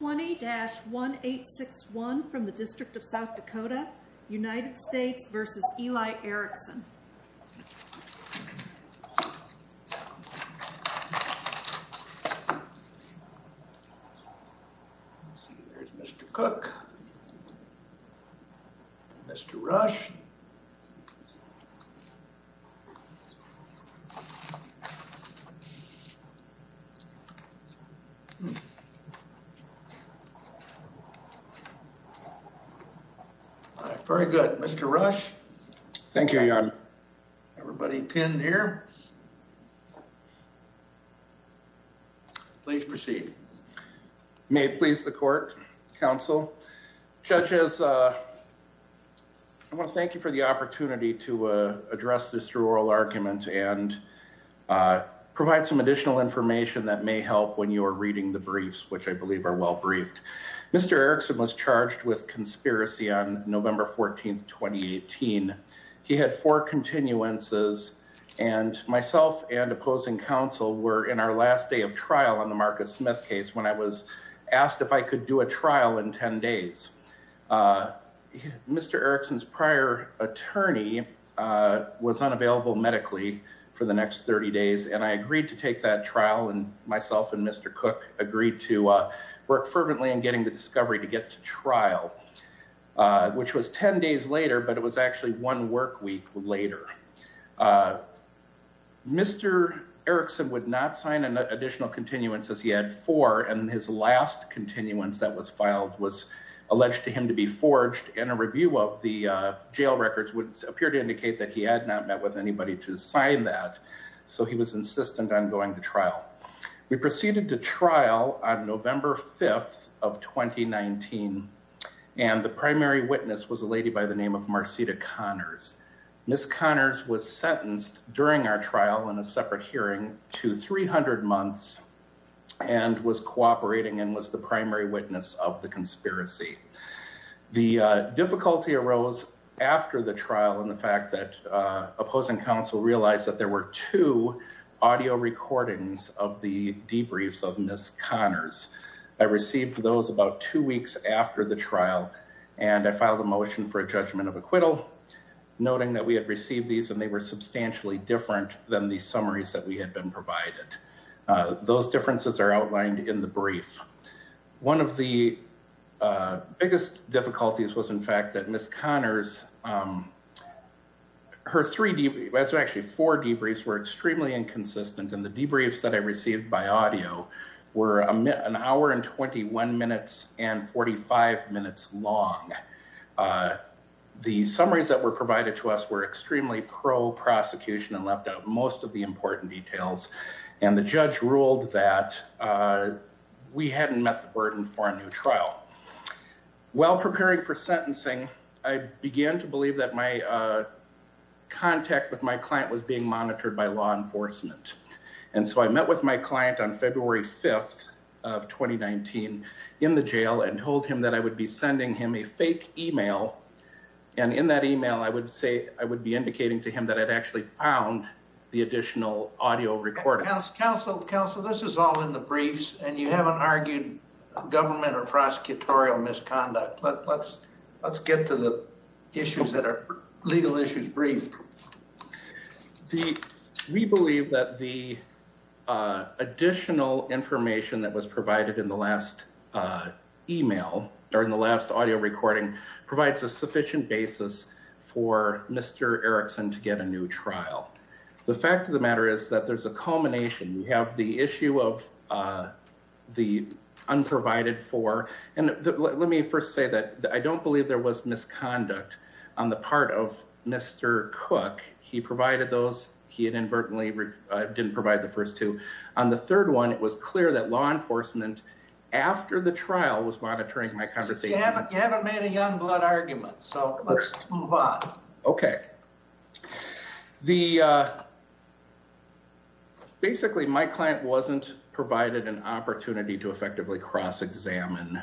20-1861 from the District of South Dakota, United States v. Eli Erickson. Mr. Cook, Mr. Rush. Very good, Mr. Rush. Thank you. Everybody pinned here. Please proceed. May it please the court, counsel, judges, I want to thank you for the opportunity to address this through oral argument and provide some additional information that may help when you are reading the briefs, which I believe are well briefed. Mr. Erickson was charged with conspiracy on November 14th, 2018. He had four continuances and myself and opposing counsel were in our last day of trial on the Marcus Smith case when I was asked if I could do a trial in 10 days. Mr. Erickson's prior attorney was unavailable medically for the next 30 days and I agreed to take that trial and myself and Mr. Cook agreed to work fervently in getting the discovery to get to trial, which was 10 days later, but it was actually one work week later. Mr. Erickson would not sign an additional continuance as he had four and his last continuance that was filed was alleged to him to be forged and a review of the jail records would appear to indicate that he had not met with anybody to sign that, so he was insistent on going to trial. We proceeded to trial on November 5th of 2019 and the primary witness was a lady by the name of Marcita Connors. Ms. Connors was sentenced during our trial in a separate hearing to 300 months and was cooperating and was the primary witness of the conspiracy. The difficulty arose after the trial and the fact that opposing counsel realized that there were two audio recordings of the debriefs of Ms. Connors. I received those about two weeks after the trial and I filed a motion for a judgment of acquittal, noting that we had received these and they were substantially different than the summaries that we had been The biggest difficulties was in fact that Ms. Connors, her three debriefs, actually four debriefs were extremely inconsistent and the debriefs that I received by audio were an hour and 21 minutes and 45 minutes long. The summaries that were provided to us were extremely pro-prosecution and left out most of the important details and the judge ruled that we hadn't met the burden for a new trial. While preparing for sentencing I began to believe that my contact with my client was being monitored by law enforcement and so I met with my client on February 5th of 2019 in the jail and told him that I would be sending him a fake email and in that email I would say I would be indicating to him that I'd actually found the additional audio recording. Counsel, this is all in the briefs and you haven't argued government or prosecutorial misconduct but let's get to the issues that are legal issues briefed. We believe that the additional information that was provided in the last email during the last audio recording provides a sufficient basis for Mr. Erickson to a new trial. The fact of the matter is that there's a culmination. We have the issue of the unprovided for and let me first say that I don't believe there was misconduct on the part of Mr. Cook. He provided those he had inadvertently didn't provide the first two. On the third one it was clear that law enforcement after the trial was monitoring my conversation. You haven't made a young blood argument so let's move on. Okay. The basically my client wasn't provided an opportunity to effectively cross-examine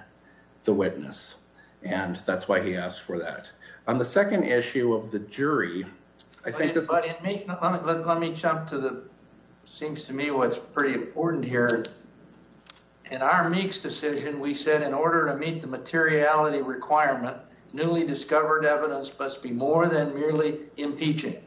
the witness and that's why he asked for that. On the second issue of the jury I think this is... Let me jump to the seems to me what's pretty important here. In our Meeks decision we said in order to meet the materiality requirement newly discovered evidence must be more than merely impeaching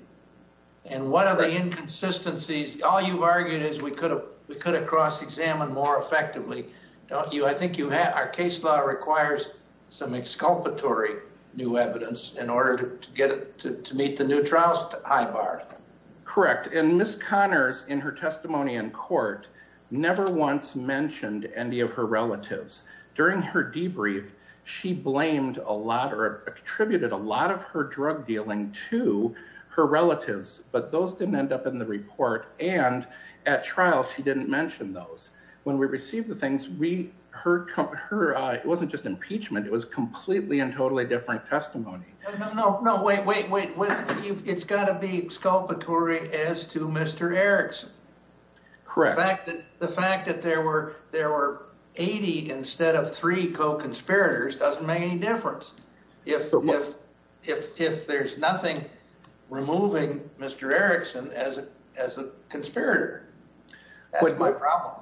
and what are the inconsistencies? All you've argued is we could have we could have cross-examined more effectively. Don't you? I think you have our case law requires some exculpatory new evidence in order to get it to meet the new trials high bar. Correct and Miss Connors in her testimony in court never once mentioned any of her relatives. During her debrief she blamed a lot or attributed a lot of her drug dealing to her relatives but those didn't end up in the report and at trial she didn't mention those. When we received the things we heard her it wasn't just impeachment it was completely and totally different testimony. No, no, wait, wait, wait. It's got to be exculpatory as to Mr. Erickson. Correct. The fact that there were 80 instead of three co-conspirators doesn't make any difference. If there's nothing removing Mr. Erickson as a conspirator that's my problem.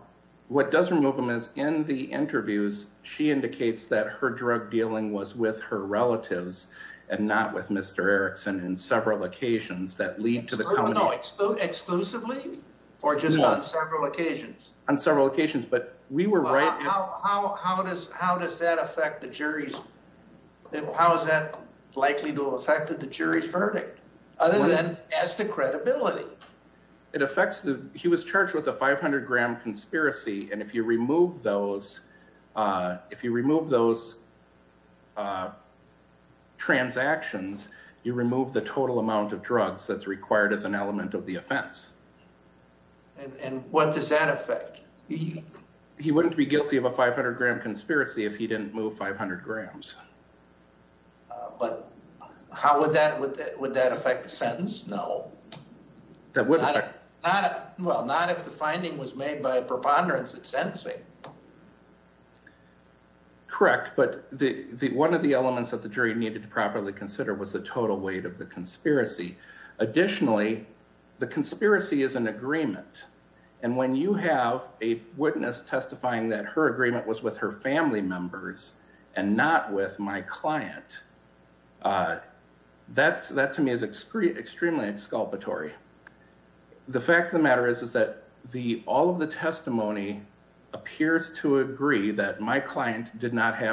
What does remove him is in the interviews she indicates that her drug dealing was with her relatives and not with Mr. Erickson in several occasions that lead to the Exclusively or just on several occasions? On several occasions but we were right. How does how does that affect the jury's how is that likely to have affected the jury's verdict other than as to credibility? It affects the he was charged with a 500 gram conspiracy and if you those uh transactions you remove the total amount of drugs that's required as an element of the offense. And what does that affect? He wouldn't be guilty of a 500 gram conspiracy if he didn't move 500 grams. But how would that would that affect the sentence? No. That would not well not if the correct but the the one of the elements of the jury needed to properly consider was the total weight of the conspiracy. Additionally the conspiracy is an agreement and when you have a witness testifying that her agreement was with her family members and not with my client uh that's that to me is extremely exculpatory. The fact of the matter is is that the all of the have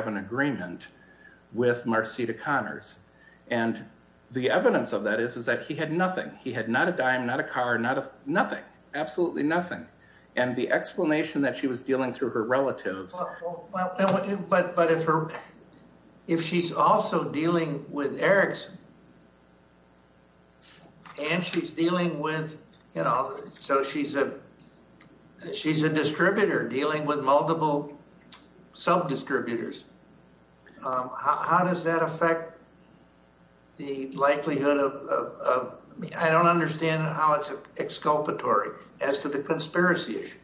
an agreement with Marcita Connors and the evidence of that is is that he had nothing he had not a dime not a car not a nothing absolutely nothing and the explanation that she was dealing through her relatives. Well but but if her if she's also dealing with Erickson and she's dealing with you know so she's a she's a distributor dealing with multiple sub-distributors. How does that affect the likelihood of I don't understand how it's exculpatory as to the conspiracy issue?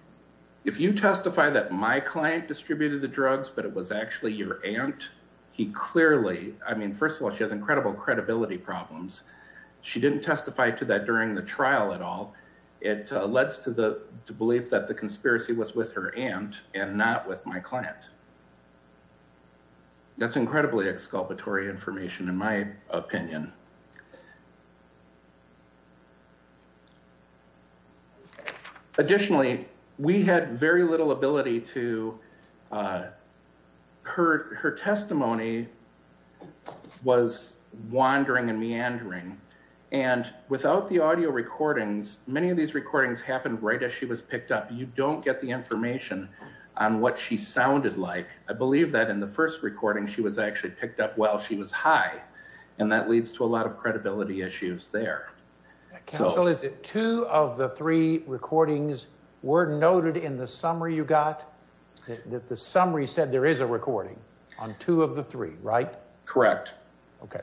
If you testify that my client distributed the drugs but it was actually your aunt he clearly I mean first of all she has incredible credibility problems. She didn't testify to that during the trial at all. It led to the belief that the conspiracy was with her aunt and not with my client. That's incredibly exculpatory information in my opinion. Additionally we had very little ability to uh her her testimony was wandering and meandering and without the audio recordings many of these recordings happened right as she was picked up. You don't get the information on what she sounded like. I believe that in the first recording she was actually picked up while she was high and that leads to a lot of credibility issues there. Counsel is it two of the three recordings were noted in the summary you got that the summary said there is a recording on two of the three right? Correct. Okay.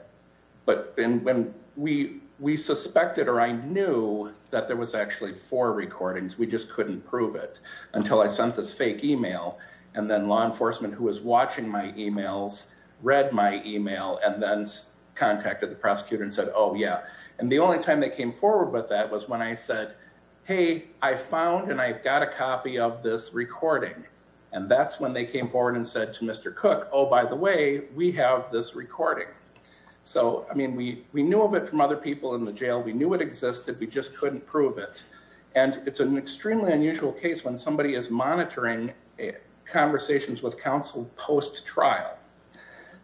But and when we we suspected or I knew that there was actually four recordings we just couldn't prove it until I sent this fake email and then law enforcement who was watching my emails read my email and then contacted the prosecutor and said oh yeah and the only time they came forward with that was when I said hey I found and I've got a copy of this recording and that's when they came forward and said to Mr. Cook oh by the way we have this recording. So I mean we we knew of it from other people in the community that it would exist if we just couldn't prove it and it's an extremely unusual case when somebody is monitoring conversations with counsel post-trial.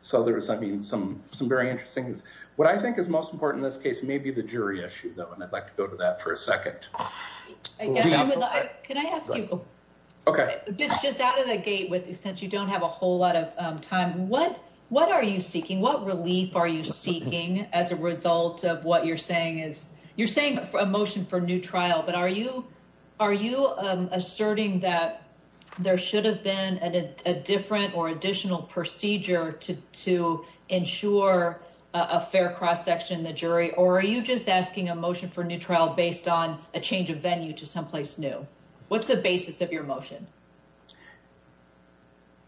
So there's I mean some some very interesting is what I think is most important in this case may be the jury issue though and I'd like to go to that for a second. Can I ask you? Okay. Just just out of the gate with since you don't have a whole lot of time what what are you seeking? What relief are you seeking as a result of what you're saying is you're saying a motion for new trial but are you are you asserting that there should have been a different or additional procedure to to ensure a fair cross-section the jury or are you just asking a motion for new trial based on a change of venue to someplace new? What's the basis of your motion?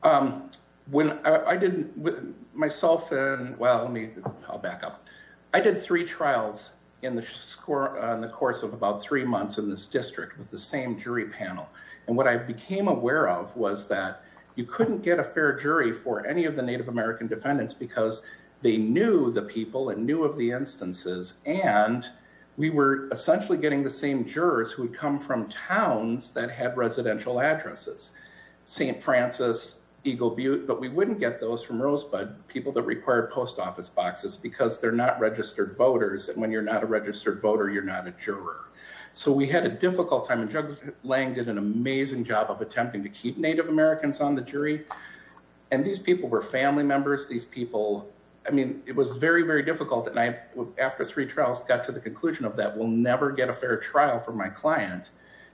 Um when I didn't with myself and well let me I'll back up. I did three trials in the score on the course of about three months in this district with the same jury panel and what I became aware of was that you couldn't get a fair jury for any of the Native American defendants because they knew the people and knew of the instances and we were essentially getting the jurors who had come from towns that had residential addresses. Saint Francis, Eagle Butte but we wouldn't get those from Rosebud people that require post office boxes because they're not registered voters and when you're not a registered voter you're not a juror. So we had a difficult time and Judge Lang did an amazing job of attempting to keep Native Americans on the jury and these people were family members. These people I mean it was very very difficult and I after three trials got to the conclusion of that we'll never get a fair trial for my client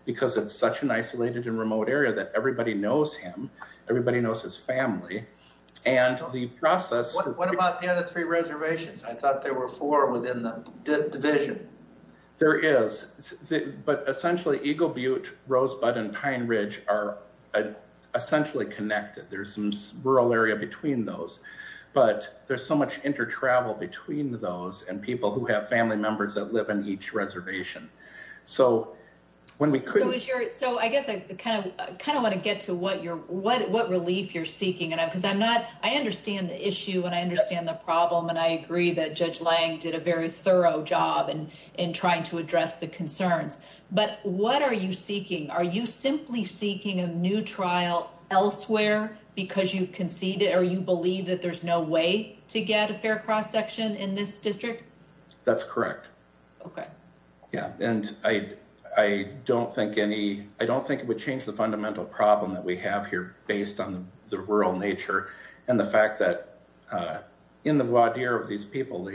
because it's such an isolated and remote area that everybody knows him. Everybody knows his family and the process. What about the other three reservations? I thought there were four within the division. There is but essentially Eagle Butte, Rosebud and Pine Ridge are essentially connected. There's some rural area between those but there's so much intertravel between those and people who have family members that live in each reservation. So I guess I kind of want to get to what relief you're seeking and because I'm not I understand the issue and I understand the problem and I agree that Judge Lang did a very thorough job in trying to address the concerns but what are you seeking? Are you simply seeking a new trial elsewhere because you've conceded or you believe that there's no way to get a fair cross-section in this district? That's correct. Okay. Yeah and I don't think any I don't think it would change the fundamental problem that we have here based on the rural nature and the fact that in the voir dire of these people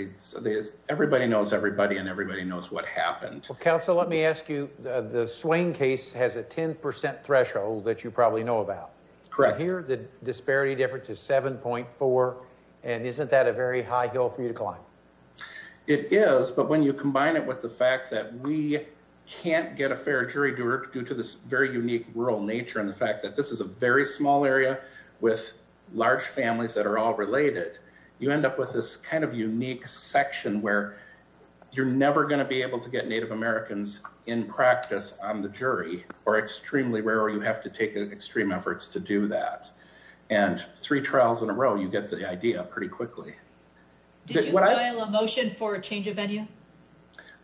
everybody knows everybody and everybody knows what happened. Well counsel let me ask you the Swain case has a 10% threshold that you probably know about. Correct. Here the disparity difference is 7.4 and isn't that a very high hill for you to climb? It is but when you combine it with the fact that we can't get a fair jury due to this very unique rural nature and the fact that this is a very small area with large families that are all related you end up with this kind of unique section where you're never going to be able to get Native Americans in practice on the jury or you have to take extreme efforts to do that and three trials in a row you get the idea pretty quickly. Did you file a motion for a change of venue?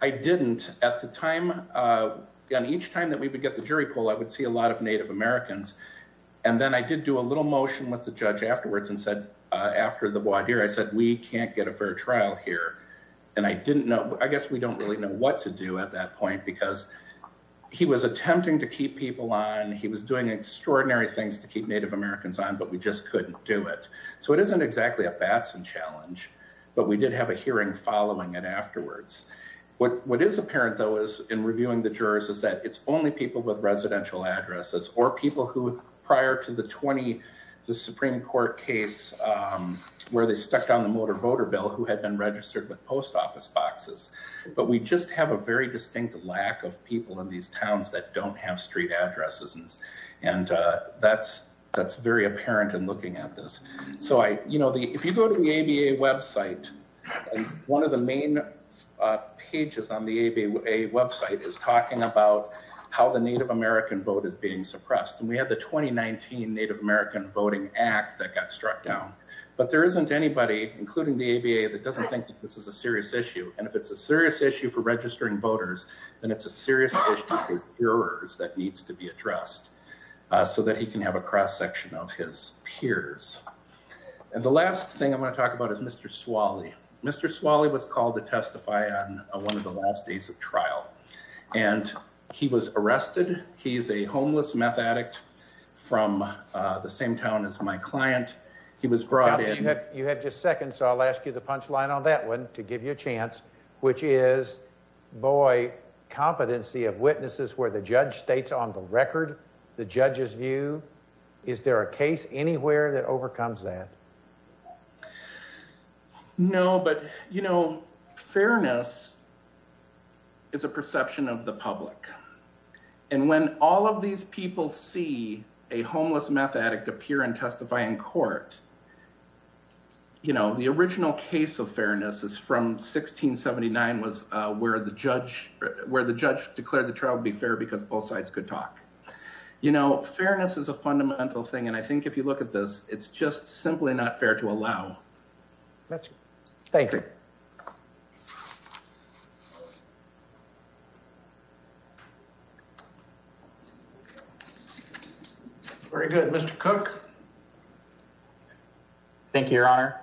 I didn't at the time on each time that we would get the jury poll I would see a lot of Native Americans and then I did do a little motion with the judge afterwards and said after the voir dire I said we can't get a fair trial here and I didn't know I guess we don't really know what to do at that point because he was attempting to keep people on he was doing extraordinary things to keep Native Americans on but we just couldn't do it. So it isn't exactly a Batson challenge but we did have a hearing following it afterwards. What is apparent though is in reviewing the jurors is that it's only people with residential addresses or people who prior to the 20 the Supreme Court case where they stuck down the motor voter bill who had been registered with post office boxes but we just have a very distinct lack of people in these towns that don't have street addresses and that's very apparent in looking at this. So I you know the if you go to the ABA website one of the main pages on the ABA website is talking about how the Native American vote is being suppressed and we had the 2019 Native American voting act that got struck down but there isn't anybody including the ABA that doesn't think that this is a serious issue and if it's a serious issue for registering voters then it's a serious issue for jurors that needs to be addressed so that he can have a cross-section of his peers. And the last thing I want to talk about is Mr. Swally. Mr. Swally was called to testify on one of the last days of trial and he was arrested. He's a homeless meth addict from the same town as my client. He was brought in. You have just a second so I'll ask you the punch line on that one to give you a chance which is boy competency of witnesses where the judge states on the record the judge's view. Is there a case anywhere that overcomes that? No but you know fairness is a perception of the public and when all of these people see a homeless meth addict appear and testify in court you know the original case of fairness is from 1679 was where the judge declared the trial to be fair because both sides could talk. You know fairness is a fundamental thing and I think if you look at this it's just Very good. Mr. Cook. Thank you, your honor.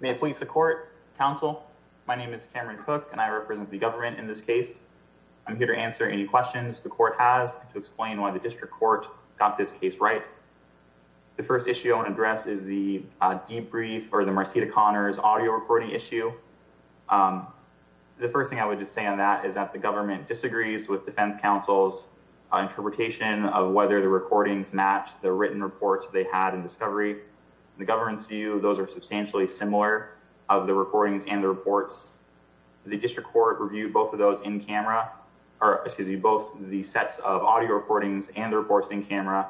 May it please the court, counsel. My name is Cameron Cook and I represent the government in this case. I'm here to answer any questions the court has to explain why the district court got this case right. The first issue I want to address is the debrief or the Marcita Connors audio issue. The first thing I would just say on that is that the government disagrees with defense counsel's interpretation of whether the recordings match the written reports they had in discovery. The government's view those are substantially similar of the recordings and the reports. The district court reviewed both of those in camera or excuse me both the sets of audio recordings and the reports in camera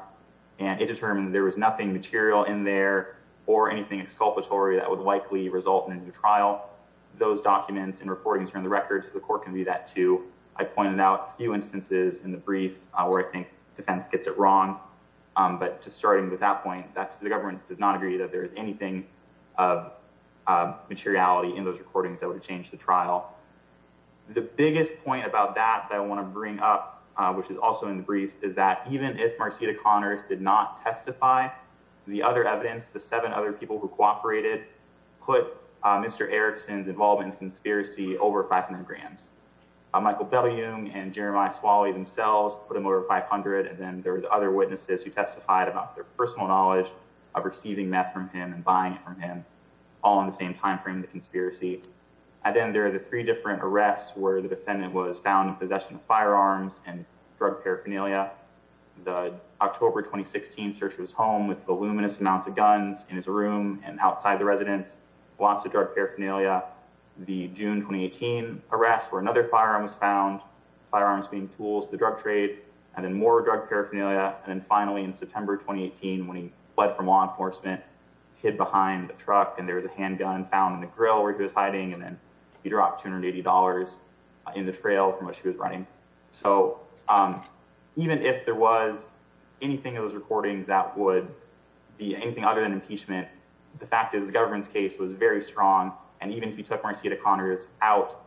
and it determined there was nothing material in there or anything exculpatory that would likely result in a new trial. Those documents and recordings from the records the court can do that too. I pointed out a few instances in the brief where I think defense gets it wrong but just starting with that point that the government does not agree that there is anything of materiality in those recordings that would change the trial. The biggest point about that that I want to bring up which is also in the brief is that the defense did not testify. The other evidence the seven other people who cooperated put Mr. Erickson's involvement in the conspiracy over 500 grands. Michael Bellioum and Jeremiah Swalley themselves put him over 500 and then there were other witnesses who testified about their personal knowledge of receiving meth from him and buying it from him all in the same time frame the conspiracy. And then there are the three different arrests where the defendant was found in possession of firearms and drug paraphernalia. The October 2016 search was home with voluminous amounts of guns in his room and outside the residence. Lots of drug paraphernalia. The June 2018 arrest where another firearm was found. Firearms being tools the drug trade and then more drug paraphernalia and then finally in September 2018 when he fled from law enforcement hid behind the truck and there was a handgun found in the grill where he was hiding and then he dropped $280 in the trail from which he was running. So even if there was anything of those recordings that would be anything other than impeachment the fact is the government's case was very strong and even if you took Marcieta Connors out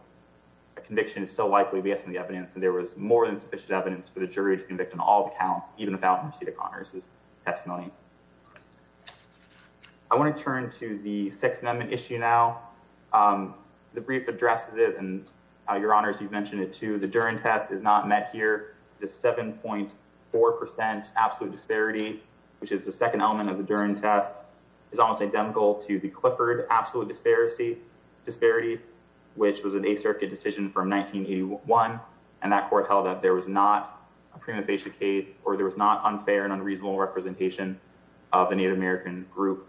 a conviction is still likely based on the evidence and there was more than sufficient evidence for the jury to convict on all the counts even without Marcieta Connors's testimony. I want to turn to the Sixth Amendment issue now. The brief addresses it and your honors you've mentioned it too the test is not met here. The 7.4 percent absolute disparity which is the second element of the Duren test is almost identical to the Clifford absolute disparity which was an a circuit decision from 1981 and that court held that there was not a prima facie case or there was not unfair and unreasonable representation of the Native American group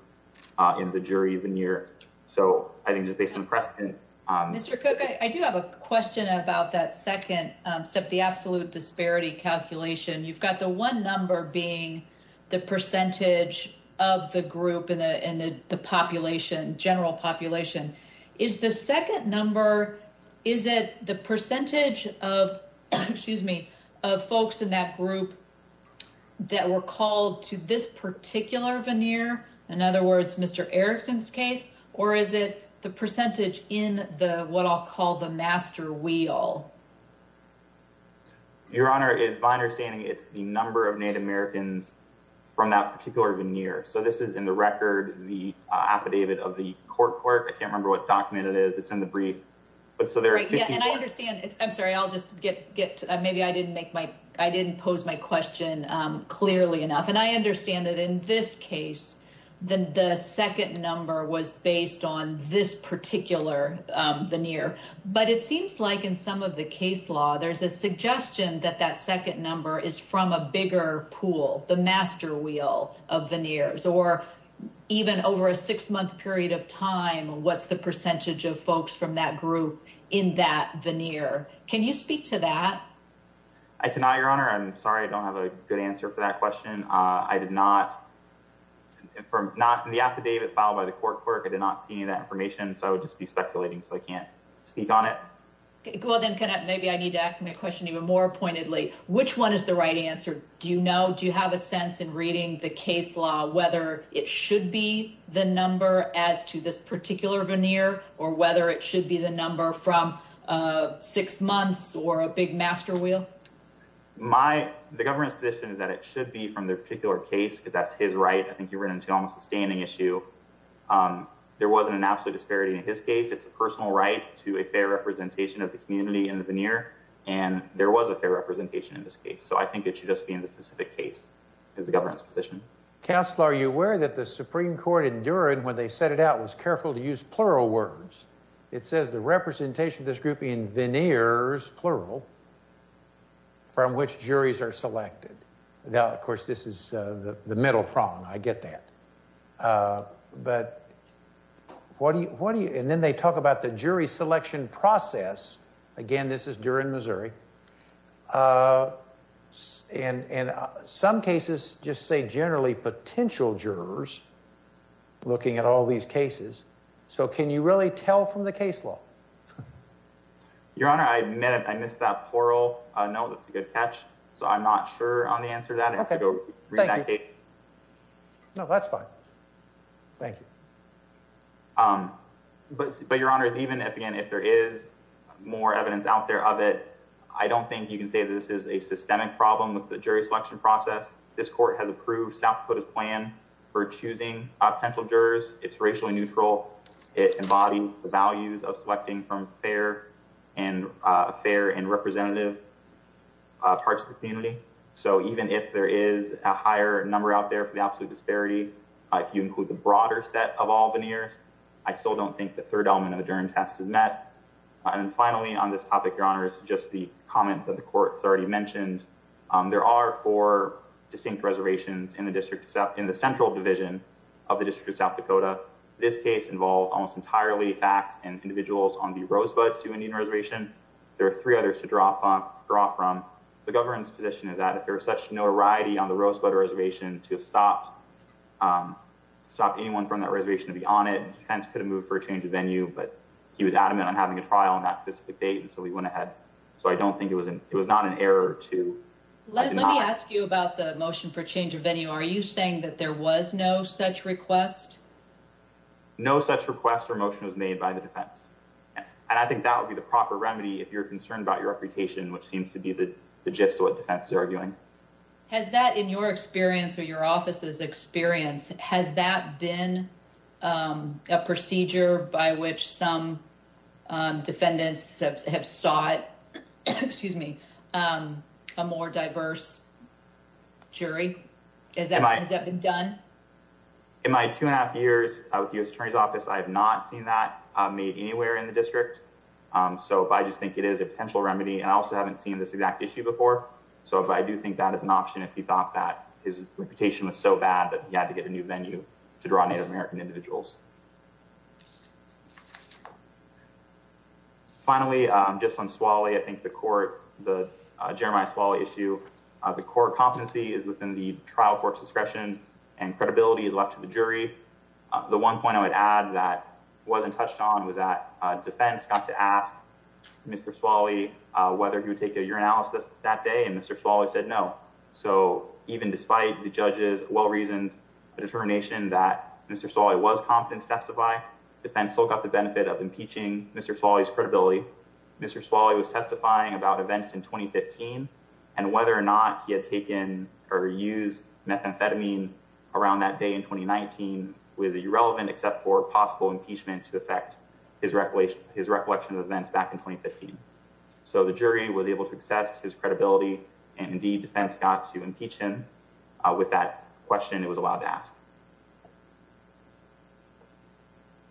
in the jury veneer. So I think Mr. Cook I do have a question about that second step the absolute disparity calculation you've got the one number being the percentage of the group in the in the population general population is the second number is it the percentage of excuse me of folks in that group that were called to this particular veneer in other words Mr. Erickson's case or is it percentage in the what I'll call the master wheel? Your honor it's my understanding it's the number of Native Americans from that particular veneer so this is in the record the affidavit of the court court I can't remember what document it is it's in the brief but so they're right yeah and I understand it's I'm sorry I'll just get get maybe I didn't make my I didn't pose my question um clearly enough and I understand that in this case then the second number was based on this particular veneer but it seems like in some of the case law there's a suggestion that that second number is from a bigger pool the master wheel of veneers or even over a six-month period of time what's the percentage of folks from that group in that veneer can you speak to that? I cannot your honor I'm sorry I don't have a good answer for that question uh I did not from not in the affidavit filed by the court clerk I did not see any of that information so I would just be speculating so I can't speak on it okay well then can maybe I need to ask me a question even more pointedly which one is the right answer do you know do you have a sense in reading the case law whether it should be the number as to this particular veneer or whether it should be the number from uh six months or a big master wheel? My the government's position is that it should be from the particular case because that's his right I think you run into almost a standing issue um there wasn't an absolute disparity in his case it's a personal right to a fair representation of the community in the veneer and there was a fair representation in this case so I think it should just be in the specific case is the government's position. Counselor are you aware that the Supreme Court in Durham when they set it out was careful to use plural words it says the representation of this group in veneers plural from which juries are selected now of course this is uh the middle prong I get that uh but what do you what do you and then they talk about the jury selection process again this is during Missouri uh and and some cases just say generally potential jurors looking at all these cases so can you really tell from the case law? Your honor I admit I missed that plural uh no that's a good catch so I'm not sure on the answer to that okay no that's fine thank you um but but your honor is even if again if there is more evidence out there of it I don't think you can say this is a systemic problem with the jury selection process this court has approved South Dakota's plan for choosing potential jurors it's fair and uh fair and representative uh parts of the community so even if there is a higher number out there for the absolute disparity if you include the broader set of all veneers I still don't think the third element of the Durham test is met and finally on this topic your honor is just the comment that the court has already mentioned um there are four distinct reservations in the district in the central division of the district of South Dakota this case involved almost entirely facts and individuals on the Rosebud Sioux Indian Reservation there are three others to draw from draw from the government's position is that if there is such notoriety on the Rosebud Reservation to have stopped um stop anyone from that reservation to be on it defense could have moved for a change of venue but he was adamant on having a trial on that specific date and so he went ahead so I don't think it was an it was not an error to let me ask you about the motion for change of venue are you saying that there was no such request no such request or motion was made by the defense and I think that would be the proper remedy if you're concerned about your reputation which seems to be the gist of what defense is arguing has that in your experience or your office's experience has that been um a procedure by which some um defendants have sought excuse me um a more diverse jury is that has that been done in my two and a half years with U.S. Attorney's Office I have not seen that made anywhere in the district um so I just think it is a potential remedy and I also haven't seen this exact issue before so but I do think that is an option if you thought that his reputation was so bad that he had to get a new venue to draw Native American individuals finally um just on Swale I think the court the Jeremiah Swale issue uh the core competency is trial court discretion and credibility is left to the jury the one point I would add that wasn't touched on was that defense got to ask Mr. Swale whether he would take a urinalysis that day and Mr. Swale said no so even despite the judge's well-reasoned determination that Mr. Swale was competent to testify defense still got the benefit of impeaching Mr. Swale's credibility Mr. Swale was testifying about events in 2015 and whether or not he had taken or used methamphetamine around that day in 2019 was irrelevant except for possible impeachment to affect his recollection of events back in 2015 so the jury was able to assess his credibility and indeed defense got to impeach him with that question it was allowed to ask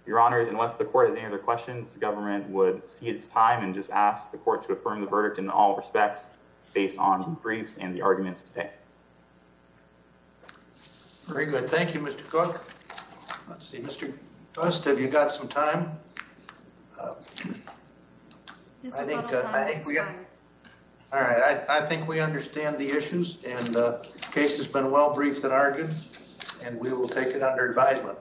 your honors unless the court has any other questions the government would see its time and just ask the court to affirm the verdict in all respects based on briefs and the arguments today very good thank you Mr. Cook let's see Mr. Gust have you got some time I think I think we got all right I think we understand the issues and the case has been well briefed and argued and we will take it under advisement